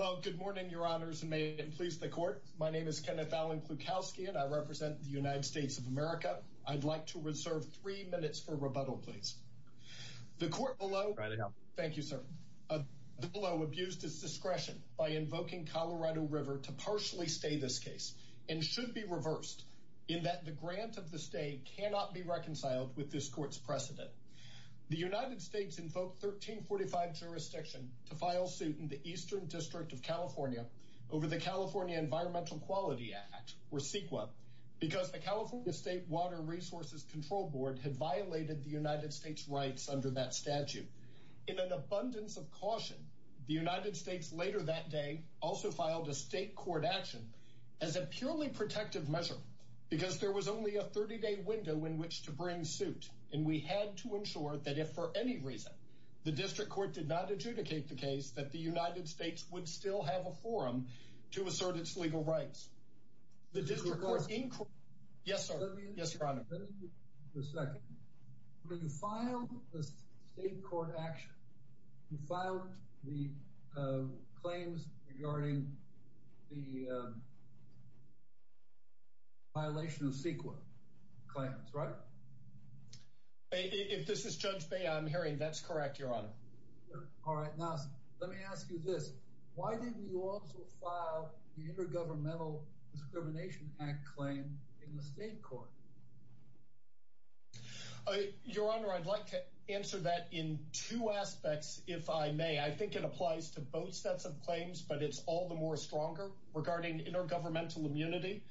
Well, good morning, your honors, and may it please the court. My name is Kenneth Allen Klukowski, and I represent the United States of America. I'd like to reserve three minutes for rebuttal, please. The court below... Thank you, sir. The court below abused its discretion by invoking Colorado River to partially stay this case and should be reversed in that the grant of the stay cannot be reconciled with this court's precedent. The United States invoked 1345 jurisdiction to file suit in the Eastern District of California over the California Environmental Quality Act, or CEQA, because the California State Water Resources Control Board had violated the United States' rights under that statute. In an abundance of caution, the United States later that day also filed a state court action as a purely protective measure because there was only a 30-day window in which to bring suit, and we had to ensure that if for any reason the district court did not adjudicate the case that the United States would still have a forum to assert its legal rights. The district court... Yes, sir. Yes, your honor. Just a second. When you filed the state court action, you filed the claims regarding the violation of CEQA claims, right? If this is Judge Bey, I'm hearing that's correct, your honor. All right. Now, let me ask you this. Why didn't you also file the Intergovernmental Discrimination Act claim in the state court? Your honor, I'd like to answer that in two aspects, if I may. I think it applies to both sets of claims, but it's all the more stronger regarding intergovernmental immunity.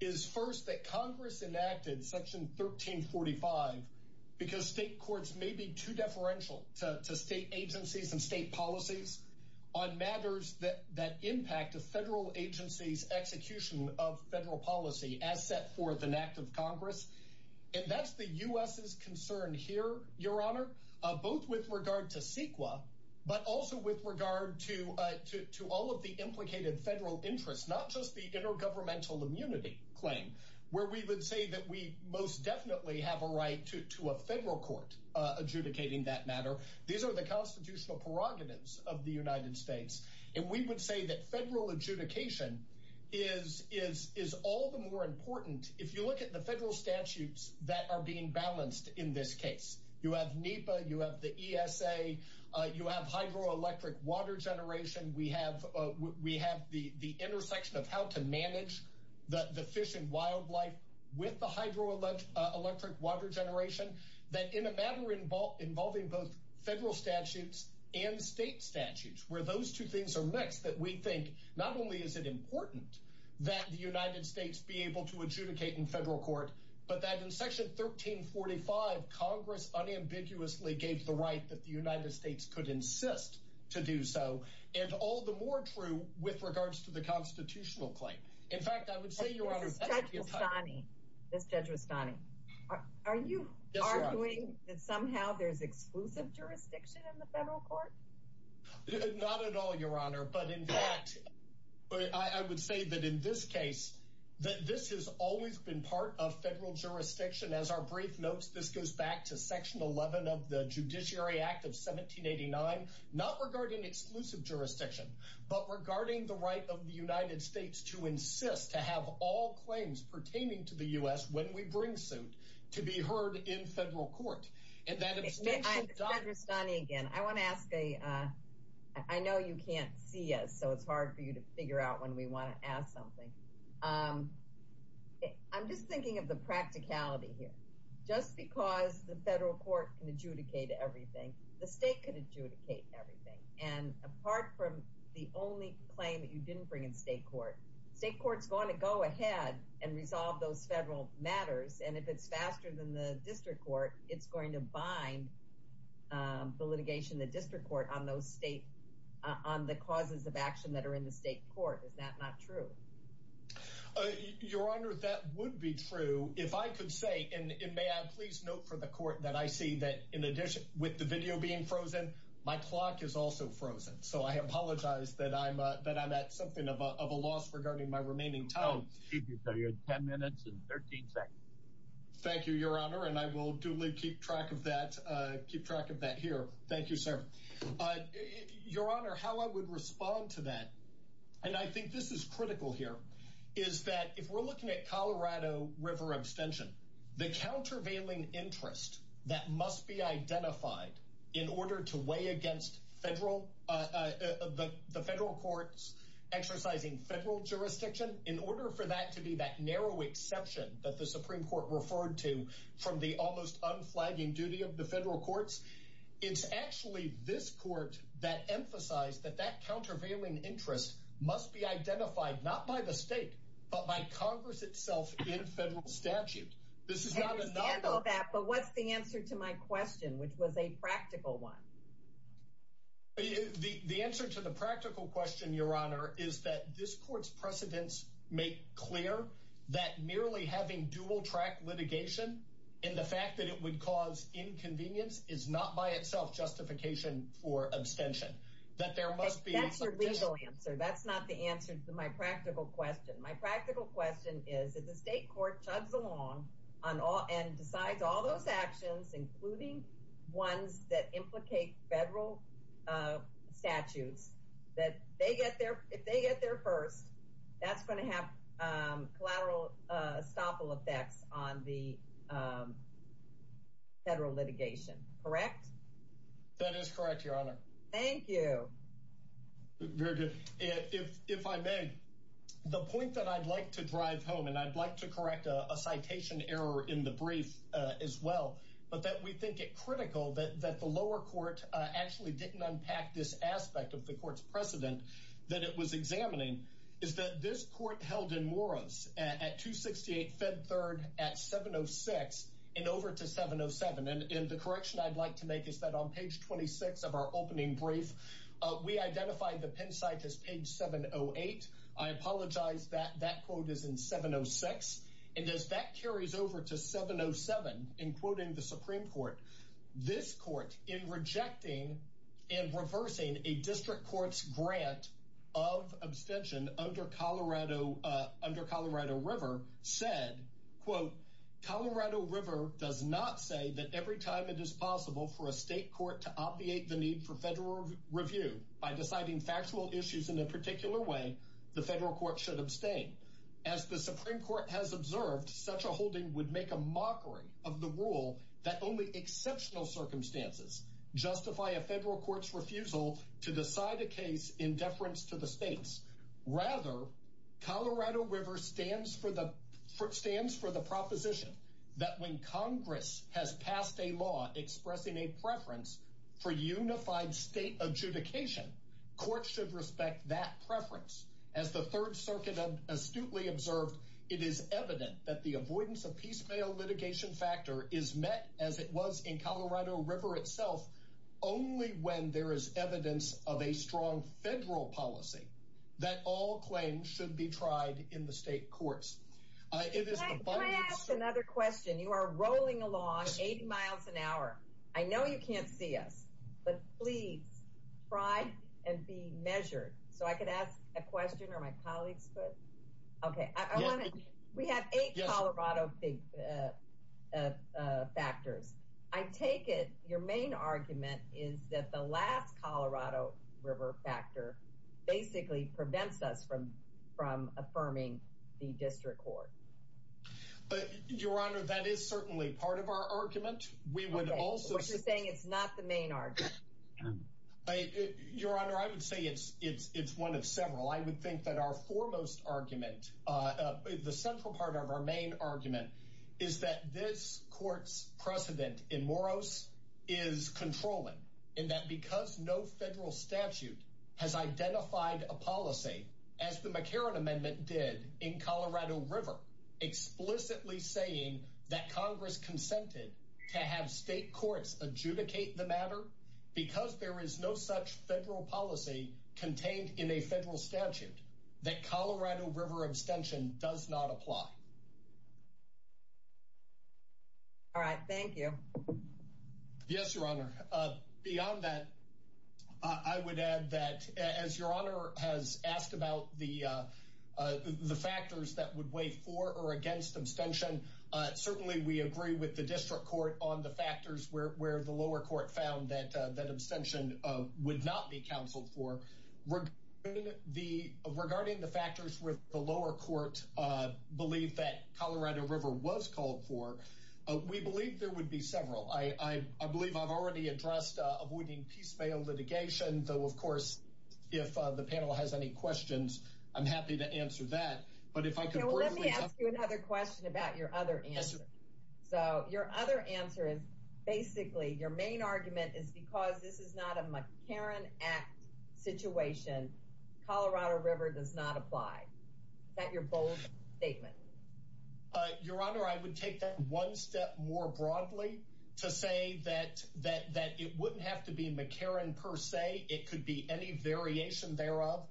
It's first that Congress enacted Section 1345 because state courts may be too deferential to state agencies and state policies on matters that impact a federal agency's execution of federal policy as set forth in an act of Congress, and that's the U.S.'s concern here, your honor, both with regard to CEQA, but also with regard to all of the implicated federal interests, not just the intergovernmental immunity claim, where we would say that we most definitely have a right to a federal court adjudicating that matter. These are the constitutional prerogatives of the United States, and we would say that federal adjudication is all the more important if you look at the federal statutes that are being balanced in this case. You have NEPA, you have the ESA, you have hydroelectric water generation, we have the intersection of how to manage the fish and wildlife with the hydroelectric water generation, that in a matter involving both federal statutes and state statutes, where those two things are mixed, that we think not only is it important that the United States be able to adjudicate in federal court, but that in Section 1345, Congress unambiguously gave the right that the United States could insist to do so, and all the more true with regards to the constitutional claim. In fact, I would say, Your Honor, that's the entire- This Judge Rustani, are you arguing that somehow there's exclusive jurisdiction in the federal court? Not at all, Your Honor, but in fact, I would say that in this case, that this has always been part of federal jurisdiction. As our brief notes, this goes back to Section 11 of the Judiciary Act of 1789, not regarding exclusive jurisdiction, but regarding the right of the United States to insist to have all claims pertaining to the U.S. when we bring suit to be heard in federal court, and that extension- I'm Judge Rustani again. I wanna ask a, I know you can't see us, so it's hard for you to figure out when we wanna ask something. I'm just thinking of the practicality here. Just because the federal court can adjudicate everything, the state could adjudicate everything, and apart from the only claim that you didn't bring in state court, state court's gonna go ahead and resolve those federal matters, and if it's faster than the district court, it's going to bind the litigation in the district court on those state, on the causes of action that are in the state court. Is that not true? Your Honor, that would be true. If I could say, and may I please note for the court that I see that in addition, with the video being frozen, my clock is also frozen, so I apologize that I'm at something of a loss regarding my remaining time. Oh, excuse me, sir, you had 10 minutes and 13 seconds. Thank you, Your Honor, and I will duly keep track of that here. Thank you, sir. Your Honor, how I would respond to that, and I think this is critical here, is that if we're looking at Colorado River abstention, the countervailing interest that must be identified in order to weigh against the federal courts exercising federal jurisdiction, in order for that to be that narrow exception that the Supreme Court referred to from the almost unflagging duty of the federal courts, it's actually this court that emphasized that that countervailing interest must be identified not by the state, but by Congress itself in federal statute. I understand all that, but what's the answer to my question, which was a practical one? The answer to the practical question, Your Honor, is that this court's precedents make clear that merely having dual-track litigation and the fact that it would cause inconvenience is not by itself justification for abstention, that there must be- That's your legal answer, that's not the answer to my practical question. My practical question is that the state court chugs along and decides all those actions, including ones that implicate federal statutes, that if they get there first, that's gonna have collateral estoppel effects on the federal litigation, correct? That is correct, Your Honor. Thank you. Very good. If I may, the point that I'd like to drive home, and I'd like to correct a citation error in the brief as well, but that we think it critical that the lower court actually didn't unpack this aspect of the court's precedent that it was examining, is that this court held in Morris at 268 Fed Third at 706 and over to 707. And the correction I'd like to make is that on page 26 of our opening brief, we identified the Penn site as page 708. I apologize that that quote is in 706. And as that carries over to 707, in quoting the Supreme Court, this court in rejecting and reversing a district court's grant of abstention under Colorado River said, quote, Colorado River does not say that every time it is possible for a state court to obviate the need for federal review by deciding factual issues in a particular way, the federal court should abstain. As the Supreme Court has observed, such a holding would make a mockery of the rule that only exceptional circumstances justify a federal court's refusal to decide a case in deference to the states. Rather, Colorado River stands for the proposition that when Congress has passed a law expressing a preference for unified state adjudication, courts should respect that preference. As the Third Circuit astutely observed, it is evident that the avoidance of piecemeal litigation factor is met as it was in Colorado River itself only when there is evidence of a strong federal policy that all claims should be tried in the state courts. It is the final- Can I ask another question? You are rolling along 80 miles an hour. I know you can't see us, but please try and be measured. So I could ask a question or my colleagues could? Okay, I wanna- We have eight Colorado factors. I take it your main argument is that the last Colorado River factor basically prevents us from affirming the district court. But, Your Honor, that is certainly part of our argument. Okay, so what you're saying is not the main argument. Your Honor, I would say it's one of several. I would think that our foremost argument, the central part of our main argument is that this court's precedent in Moros is controlling in that because no federal statute has identified a policy as the McCarran Amendment did in Colorado River, explicitly saying that Congress consented to have state courts adjudicate the matter because there is no such federal policy contained in a federal statute that Colorado River abstention does not apply. All right, thank you. Yes, Your Honor. Beyond that, I would add that as Your Honor has asked about the factors that would weigh for or against abstention, certainly we agree with the district court on the factors where the lower court found that abstention would not be counseled for. Regarding the factors where the lower court believed that Colorado River was called for, we believe there would be several. I believe I've already addressed avoiding piecemeal litigation, though, of course, if the panel has any questions, I'm happy to answer that. But if I could briefly- Okay, well, let me ask you another question about your other answer. So your other answer is basically your main argument is because this is not a McCarran Act situation. Colorado River does not apply. Is that your bold statement? Your Honor, I would take that one step more broadly to say that it wouldn't have to be McCarran per se. It could be any variation thereof.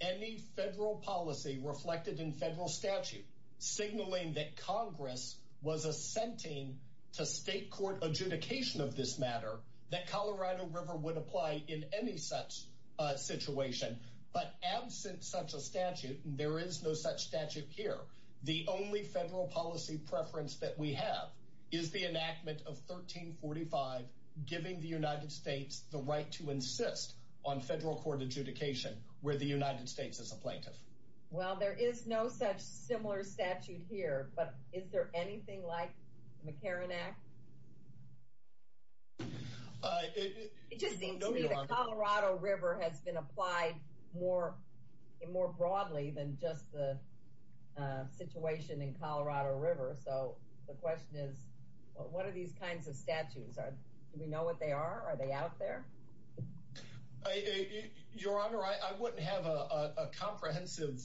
Any federal policy reflected in federal statute signaling that Congress was assenting to state court adjudication of this matter that Colorado River would apply in any such situation, but absent such a statute, and there is no such statute here, the only federal policy preference that we have is the enactment of 1345, giving the United States the right to insist on federal court adjudication where the United States is a plaintiff. Well, there is no such similar statute here, but is there anything like the McCarran Act? It just seems to me the Colorado River has been applied more broadly than just the situation in Colorado River, so the question is, what are these kinds of statutes? Do we know what they are? Are they out there? Your Honor, I wouldn't have a comprehensive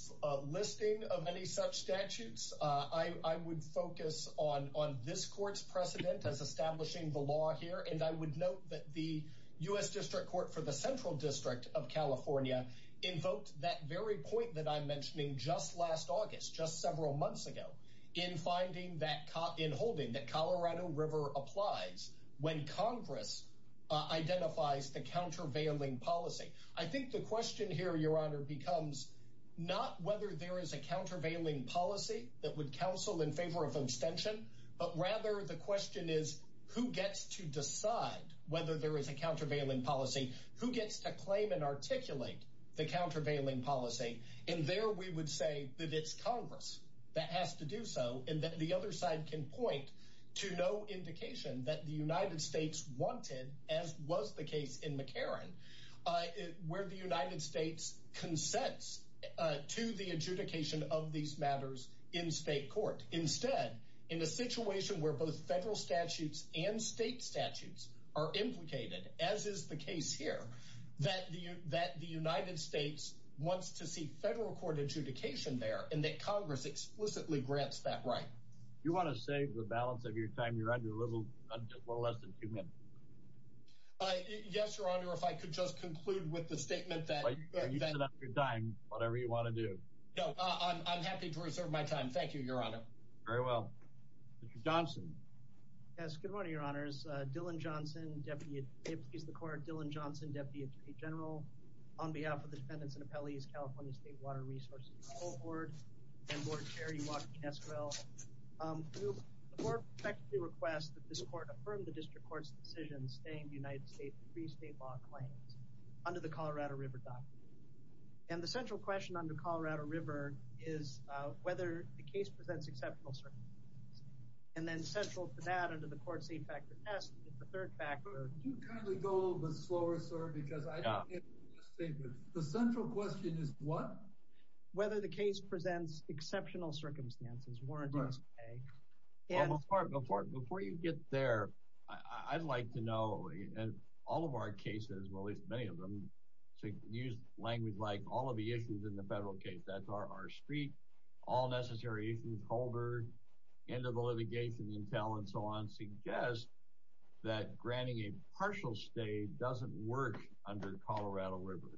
listing of any such statutes. I would focus on this court's precedent as establishing the law here, and I would note that the U.S. District Court for the Central District of California invoked that very point that I'm mentioning just last August, just several months ago, in holding that Colorado River applies when Congress identifies the countervailing policy. I think the question here, Your Honor, becomes not whether there is a countervailing policy that would counsel in favor of abstention, but rather the question is, who gets to decide whether there is a countervailing policy? Who gets to claim and articulate the countervailing policy? And there we would say that it's Congress that has to do so, and that the other side can point to no indication that the United States wanted, as was the case in McCarran, where the United States consents to the adjudication of these matters in state court. Instead, in a situation where both federal statutes and state statutes are implicated, as is the case here, that the United States wants to seek federal court adjudication there, and that Congress explicitly grants that right. You want to save the balance of your time? You're under a little less than two minutes. Yes, Your Honor, if I could just conclude with the statement that- You set up your time, whatever you want to do. No, I'm happy to reserve my time. Thank you, Your Honor. Very well. Mr. Johnson. Yes, good morning, Your Honors. Dylan Johnson, Deputy Attorney General, on behalf of the Dependents and Appellees California State Water Resources Cohort, and Board Chair Ewarth Esquivel, the Court respectfully requests that this Court affirm the District Court's decision staying the United States' pre-state law claims under the Colorado River Doctrine. And the central question under Colorado River is whether the case presents exceptional circumstances. And then central to that under the court's eight-factor test is the third factor- Could you kindly go a little bit slower, sir, because I don't get the last statement. The central question is what? Whether the case presents exceptional circumstances, warranties, and- Before you get there, I'd like to know, in all of our cases, well, at least many of them, to use language like all of the issues in the federal case. That's our street, all necessary issues, the holder, end of the litigation, and so on, suggest that granting a partial stay doesn't work under Colorado River.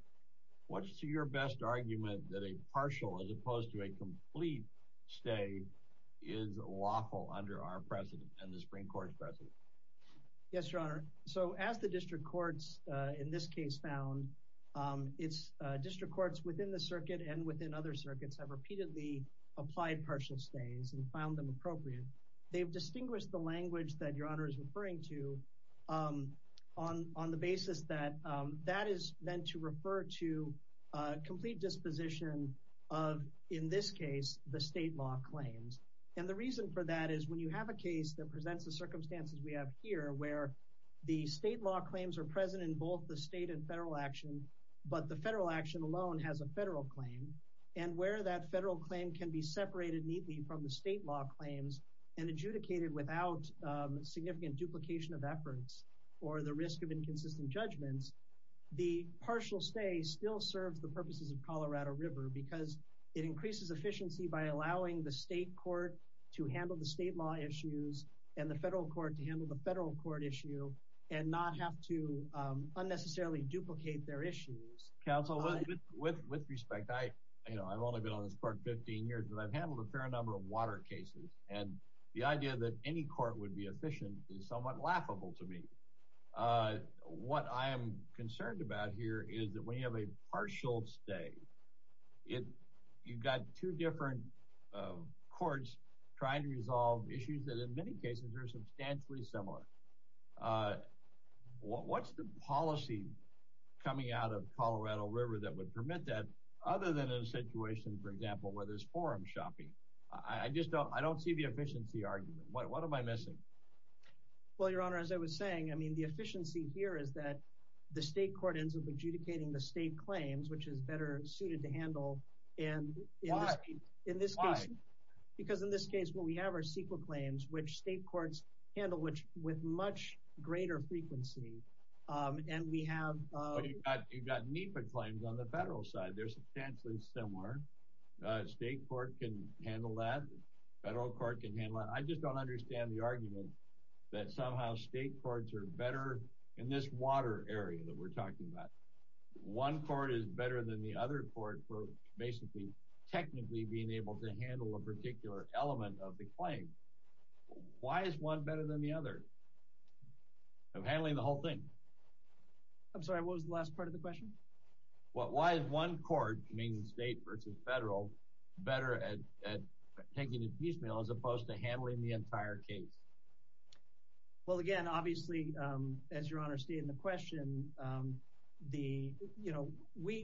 What's your best argument that a partial, as opposed to a complete stay, is lawful under our precedent, and the Supreme Court's precedent? Yes, Your Honor. So, as the District Courts, in this case, found, it's District Courts within the circuit and within other circuits have repeatedly applied partial stays and found them appropriate. They've distinguished the language that Your Honor is referring to on the basis that that is meant to refer to a complete disposition of, in this case, the state law claims. And the reason for that is when you have a case that presents the circumstances we have here, where the state law claims are present in both the state and federal action, but the federal action alone has a federal claim, and where that federal claim can be separated neatly from the state law claims and adjudicated without significant duplication of efforts or the risk of inconsistent judgments, the partial stay still serves the purposes of Colorado River because it increases efficiency by allowing the state court to handle the state law issues and the federal court to handle the federal court issue and not have to unnecessarily duplicate their issues. Counsel, with respect, I've only been on this court 15 years and I've handled a fair number of water cases. And the idea that any court would be efficient is somewhat laughable to me. What I am concerned about here is that when you have a partial stay, you've got two different courts trying to resolve issues that in many cases are substantially similar. What's the policy coming out of Colorado River that would permit that other than in a situation, for example, where there's forum shopping? I just don't see the efficiency argument. What am I missing? Well, Your Honor, as I was saying, I mean, the efficiency here is that the state court ends up adjudicating the state claims, which is better suited to handle. And in this case, because in this case, what we have are CEQA claims, which state courts handle with much greater frequency. And we have- You've got NEPA claims on the federal side. They're substantially similar. State court can handle that. Federal court can handle that. I just don't understand the argument that somehow state courts are better in this water area that we're talking about. One court is better than the other court for basically technically being able to handle a particular element of the claim. Why is one better than the other of handling the whole thing? I'm sorry, what was the last part of the question? Well, why is one court, meaning state versus federal, better at taking a piecemeal as opposed to handling the entire case? Well, again, obviously, as Your Honor stated in the question,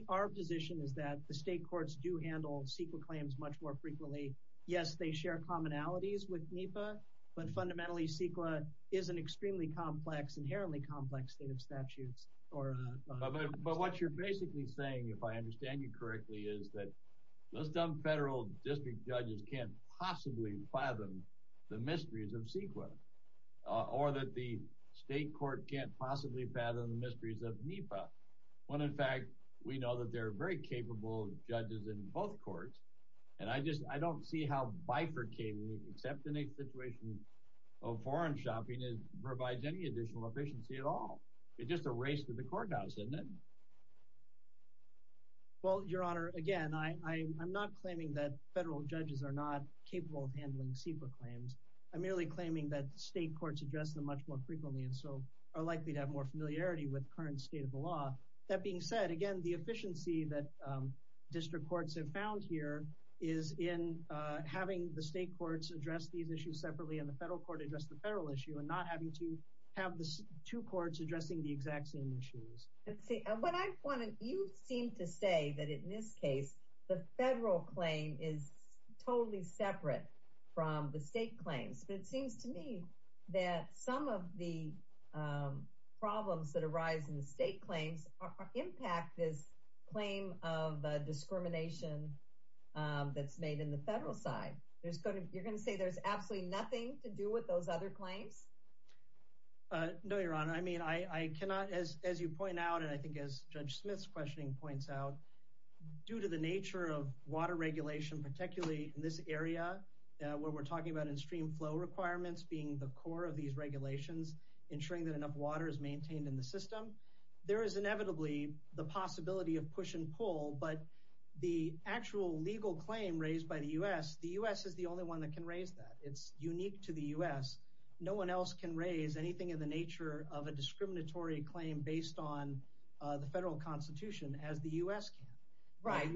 our position is that the state courts do handle CEQA claims much more frequently. Yes, they share commonalities with NEPA, but fundamentally, CEQA is an extremely complex, inherently complex state of statutes. But what you're basically saying, if I understand you correctly, is that those dumb federal district judges can't possibly fathom the mysteries of CEQA, or that the state court can't possibly fathom the mysteries of NEPA, when in fact, we know that there are very capable judges in both courts. And I just, I don't see how bifurcating, except in a situation of foreign shopping, it provides any additional efficiency at all. It's just a race to the courthouse, isn't it? Well, Your Honor, again, I'm not claiming that federal judges are not capable of handling CEQA claims. I'm merely claiming that state courts address them much more frequently, and so are likely to have more familiarity with current state of the law. That being said, again, the efficiency that district courts have found here is in having the state courts address these issues separately, and the federal court address the federal issue, and not having to have the two courts addressing the exact same issues. Let's see, you seem to say that in this case, the federal claim is totally separate from the state claims. But it seems to me that some of the problems that arise in the state claims impact this claim of discrimination that's made in the federal side. You're gonna say there's absolutely nothing to do with those other claims? No, Your Honor. I mean, I cannot, as you point out, and I think as Judge Smith's questioning points out, due to the nature of water regulation, particularly in this area, where we're talking about in stream flow requirements being the core of these regulations, ensuring that enough water is maintained in the system, there is inevitably the possibility of push and pull, but the actual legal claim raised by the U.S., the U.S. is the only one that can raise that. It's unique to the U.S. No one else can raise anything in the nature of a discriminatory claim based on the federal constitution as the U.S. can. Right,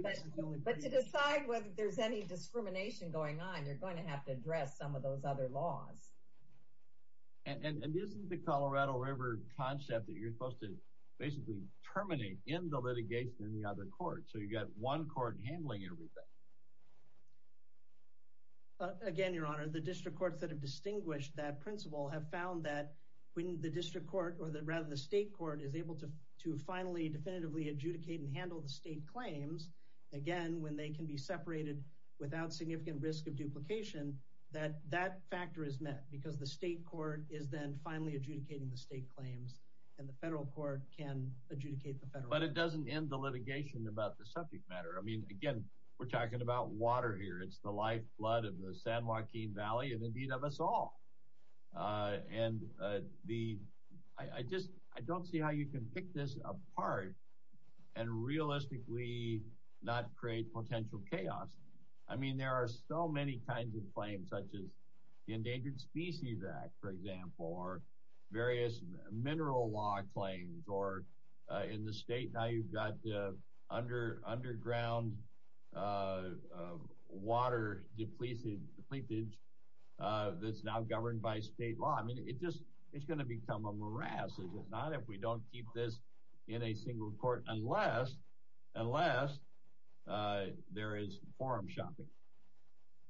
but to decide whether there's any discrimination going on, you're going to have to address some of those other laws. And isn't the Colorado River concept that you're supposed to basically terminate in the litigation in the other courts? So you got one court handling everything. Again, Your Honor, the district courts that have distinguished that principle have found that when the district court, or rather the state court, is able to finally, definitively adjudicate and handle the state claims, again, when they can be separated without significant risk of duplication, that that factor is met. Because the state court is then finally adjudicating the state claims, and the federal court can adjudicate the federal claims. But it doesn't end the litigation about the subject matter. I mean, again, we're talking about water here. It's the lifeblood of the San Joaquin Valley, and indeed of us all. And I just, I don't see how you can pick this apart and realistically not create potential chaos. I mean, there are so many kinds of claims, such as the Endangered Species Act, for example, or various mineral law claims, or in the state now you've got the underground water depletage that's now governed by state law. I mean, it just, it's gonna become a morass, is it not, if we don't keep this in a single court, unless, unless there is forum shopping.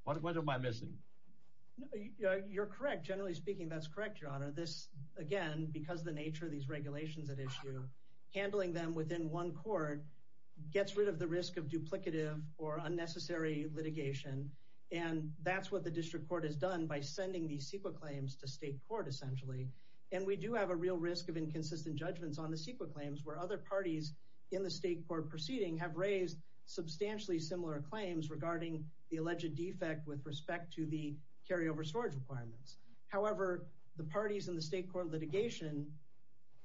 What am I missing? You're correct. Generally speaking, that's correct, Your Honor. This, again, because of the nature of these regulations at issue, handling them within one court gets rid of the risk of duplicative or unnecessary litigation. And that's what the district court has done by sending these CEQA claims to state court, essentially. And we do have a real risk of inconsistent judgments on the CEQA claims, where other parties in the state court proceeding have raised substantially similar claims regarding the alleged defect with respect to the carryover storage requirements. However, the parties in the state court litigation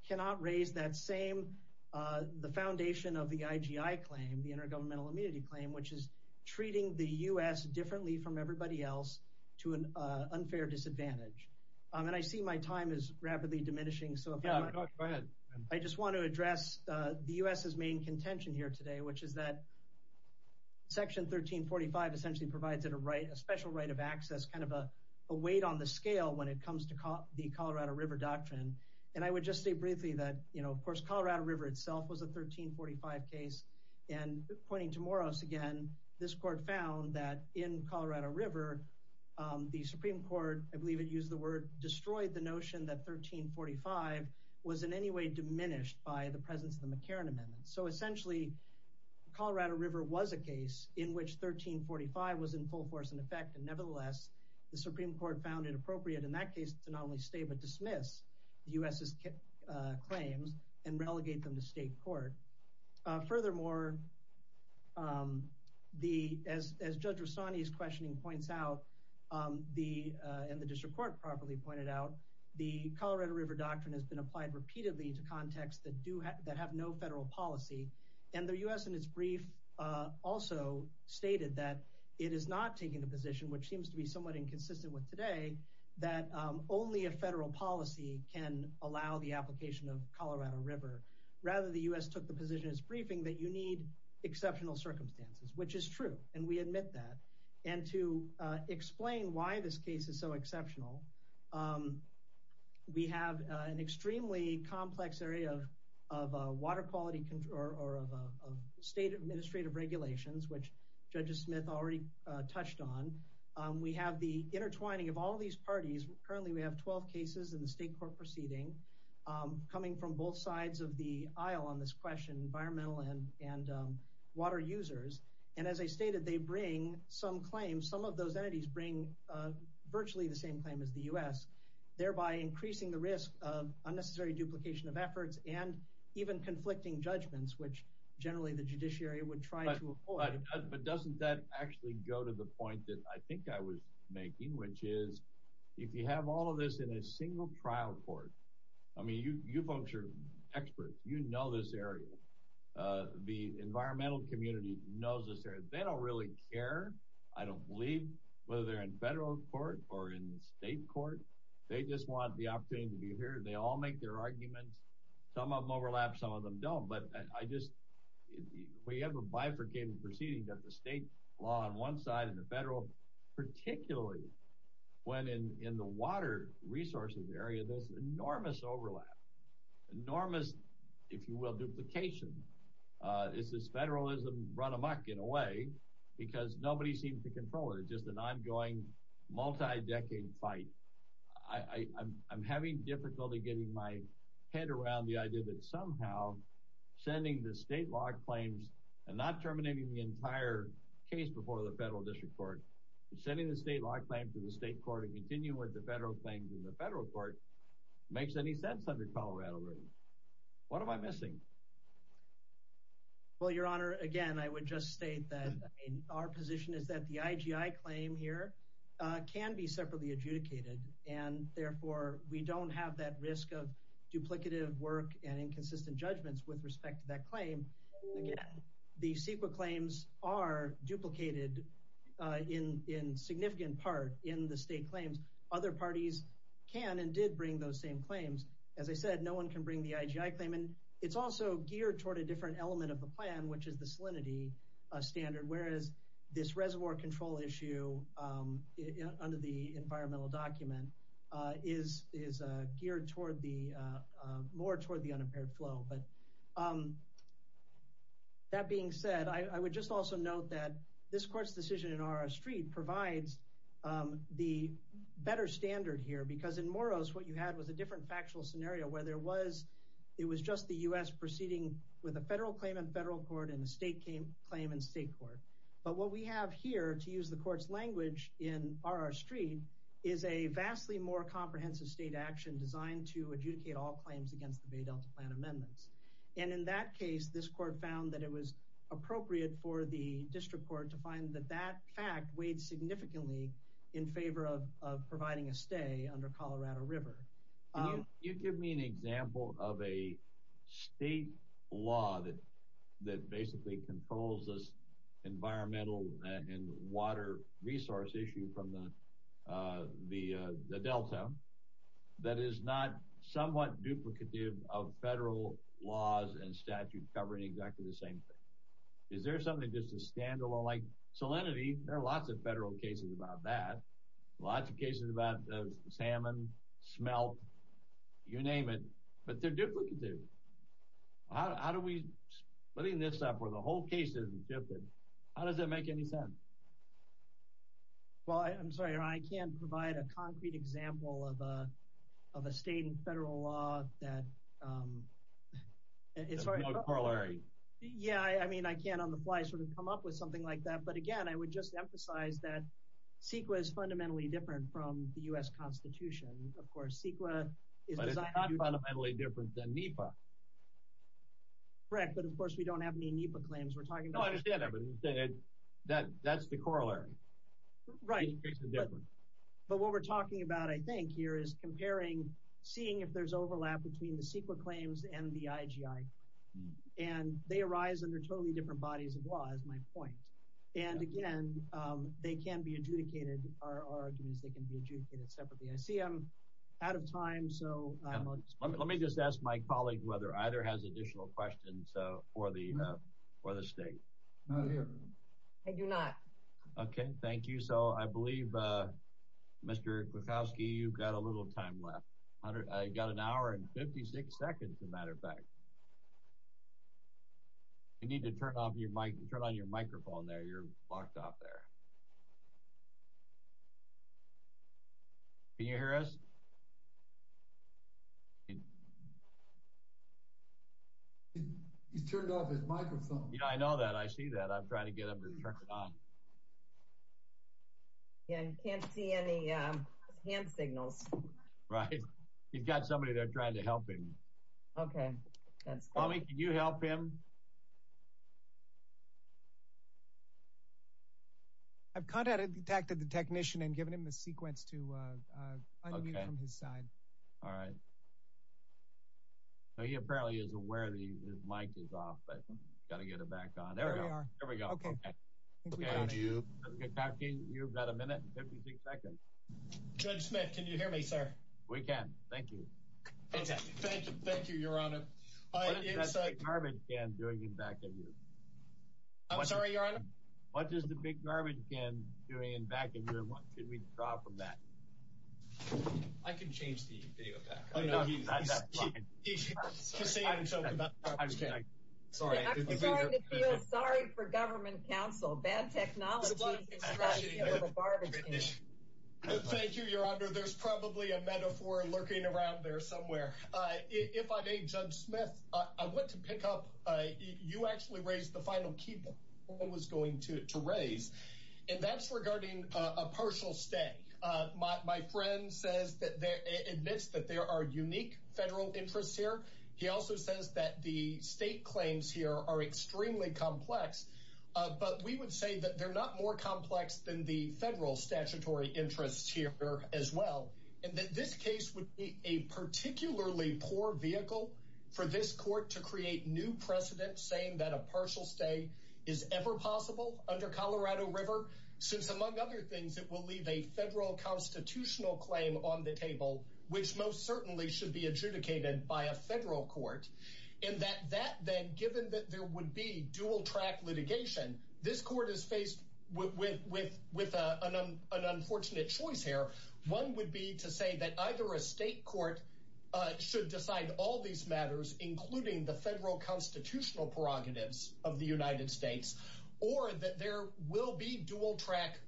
cannot raise that same, the foundation of the IGI claim, the Intergovernmental Immunity Claim, which is treating the U.S. differently from everybody else to an unfair disadvantage. And I see my time is rapidly diminishing, so if I might- Yeah, go ahead. I just wanna address the U.S.'s main contention here today, which is that Section 1345 essentially provides it a special right of access, kind of a weight on the scale when it comes to the Colorado River Doctrine. And I would just say briefly that, of course, Colorado River itself was a 1345 case. And pointing to Moros again, this court found that in Colorado River, the Supreme Court, I believe it used the word, destroyed the notion that 1345 was in any way diminished by the presence of the McCarran Amendment. So essentially, Colorado River was a case in which 1345 was in full force and effect, and nevertheless, the Supreme Court found it appropriate in that case to not only stay, but dismiss the U.S.'s claims and relegate them to state court. Furthermore, as Judge Rastani's questioning points out, and the district court properly pointed out, the Colorado River Doctrine has been applied repeatedly to contexts that have no federal policy. And the U.S. in its brief also stated that it is not taking the position, which seems to be somewhat inconsistent with today, that only a federal policy can allow the application of Colorado River. Rather, the U.S. took the position in its briefing that you need exceptional circumstances, which is true, and we admit that. And to explain why this case is so exceptional, we have an extremely complex area of water quality control, or of state administrative regulations, which Judge Smith already touched on. We have the intertwining of all these parties. Currently, we have 12 cases in the state court proceeding coming from both sides of the aisle on this question, environmental and water users. And as I stated, they bring some claims. Some of those entities bring virtually the same claim as the U.S., thereby increasing the risk of unnecessary duplication of efforts and even conflicting judgments, which generally the judiciary would try to avoid. But doesn't that actually go to the point that I think I was making, which is if you have all of this in a single trial court, I mean, you folks are experts. You know this area. The environmental community knows this area. They don't really care, I don't believe, whether they're in federal court or in state court. They just want the opportunity to be heard. They all make their arguments. Some of them overlap, some of them don't. But I just, we have a bifurcated proceeding that the state law on one side and the federal, particularly when in the water resources area, there's enormous overlap, enormous, if you will, duplication. It's this federalism run amuck, in a way, because nobody seems to control it. It's just an ongoing, multi-decade fight. I'm having difficulty getting my head around the idea that somehow sending the state law claims and not terminating the entire case before the federal district court, sending the state law claim to the state court and continue with the federal claims in the federal court makes any sense under Colorado rules. What am I missing? Well, Your Honor, again, I would just state that our position is that the IGI claim here can be separately adjudicated. And therefore, we don't have that risk of duplicative work and inconsistent judgments with respect to that claim. Again, the CEQA claims are duplicated in significant part in the state claims. Other parties can and did bring those same claims. As I said, no one can bring the IGI claim. And it's also geared toward a different element of the plan, which is the salinity standard. Whereas this reservoir control issue under the environmental document is geared more toward the unimpaired flow. That being said, I would just also note that this court's decision in R.R. Street provides the better standard here. Because in Moros, what you had was a different factual scenario where it was just the U.S. proceeding with a federal claim in federal court and a state claim in state court. But what we have here, to use the court's language, in R.R. Street is a vastly more comprehensive state action designed to adjudicate all claims against the Bay Delta Plan amendments. And in that case, this court found that it was appropriate for the district court to find that that fact weighed significantly in favor of providing a stay under Colorado River. Can you give me an example of a state law that basically controls this environmental and water resource issue from the delta that is not somewhat duplicative of federal laws and statute covering exactly the same thing? Is there something just a standalone, like salinity, there are lots of federal cases about that, lots of cases about salmon, smelt, you name it, but they're duplicative. How do we splitting this up where the whole case isn't duplicative, how does that make any sense? Well, I'm sorry, I can't provide a concrete example of a state and federal law that, it's very- It's more corollary. Yeah, I mean, I can't on the fly sort of come up with something like that. But again, I would just emphasize that CEQA is fundamentally different from the U.S. Constitution. Of course, CEQA is designed- But it's not fundamentally different than NEPA. Correct, but of course, we don't have any NEPA claims. We're talking about- No, I understand that, but that's the corollary. Right. It makes a difference. But what we're talking about, I think here, is comparing, seeing if there's overlap between the CEQA claims and the IGI. And they arise under totally different bodies of law, is my point. And again, they can be adjudicated, our argument is they can be adjudicated separately. I see I'm out of time, so I'm- Let me just ask my colleague whether either has additional questions for the state. I do not. Okay, thank you. So I believe, Mr. Kwiatkowski, you've got a little time left. I got an hour and 56 seconds, as a matter of fact. You need to turn off your mic, turn on your microphone there. You're locked off there. Can you hear us? He's turned off his microphone. Yeah, I know that, I see that. I'm trying to get him to turn it on. Yeah, you can't see any hand signals. Right. He's got somebody there trying to help him. Okay, that's fine. Tommy, can you help him? I've contacted the technician and given him a sequence to unmute from his side. All right. He apparently is aware his mic is off, but gotta get it back on. There we are. There we go. Okay. Thank you. Mr. Kwiatkowski, you've got a minute and 56 seconds. Judge Smith, can you hear me, sir? We can, thank you. Okay, thank you, your honor. What is that big garbage can doing in back of you? I'm sorry, your honor? What is the big garbage can doing in back of you and what can we draw from that? I can change the video back. Oh, no, he's not that far. He's just saying something about the garbage can. Sorry. I'm starting to feel sorry for government counsel. Bad technology is trying to deal with a garbage can. Thank you, your honor. Your honor, there's probably a metaphor lurking around there somewhere. If I may, Judge Smith, I want to pick up, you actually raised the final key point I was going to raise, and that's regarding a partial stay. My friend admits that there are unique federal interests here. He also says that the state claims here are extremely complex, but we would say that they're not more complex than the federal statutory interests here as well, and that this case would be a particularly poor vehicle for this court to create new precedent saying that a partial stay is ever possible under Colorado River, since among other things, it will leave a federal constitutional claim on the table, which most certainly should be adjudicated by a federal court, and that that then, given that there would be dual-track litigation, this court is faced with an unfortunate choice here. One would be to say that either a state court should decide all these matters, including the federal constitutional prerogatives of the United States, or that there will be dual-track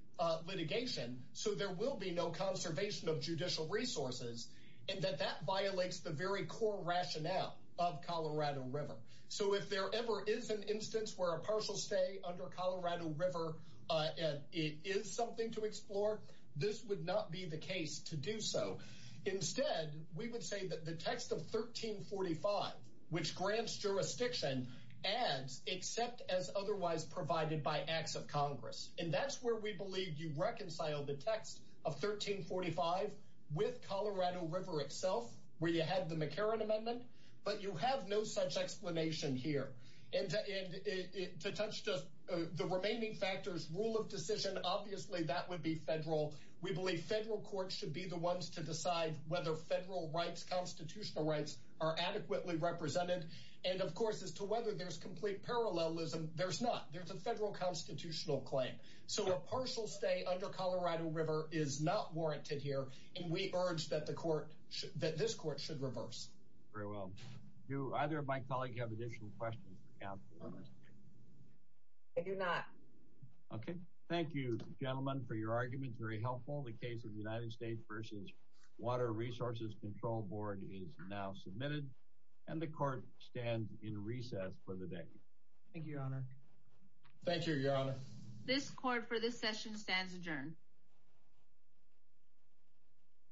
litigation, so there will be no conservation of judicial resources, and that that violates the very core rationale of Colorado River. So if there ever is an instance where a partial stay under Colorado River, and it is something to explore, this would not be the case to do so. Instead, we would say that the text of 1345, which grants jurisdiction, and except as otherwise provided by acts of Congress, and that's where we believe you reconcile the text of 1345 with Colorado River itself, where you had the McCarran Amendment, but you have no such explanation here. And to touch just the remaining factors, rule of decision, obviously that would be federal. We believe federal courts should be the ones to decide whether federal rights, constitutional rights, are adequately represented. And of course, as to whether there's complete parallelism, there's not. There's a federal constitutional claim. So a partial stay under Colorado River is not warranted here, and we urge that this court should reverse. Very well. Do either of my colleagues have additional questions for counsel? I do not. Okay. Thank you, gentlemen, for your arguments. Very helpful. The case of the United States versus Water Resources Control Board is now submitted, and the court stands in recess for the day. Thank you, Your Honor. Thank you, Your Honor. This court for this session stands adjourned.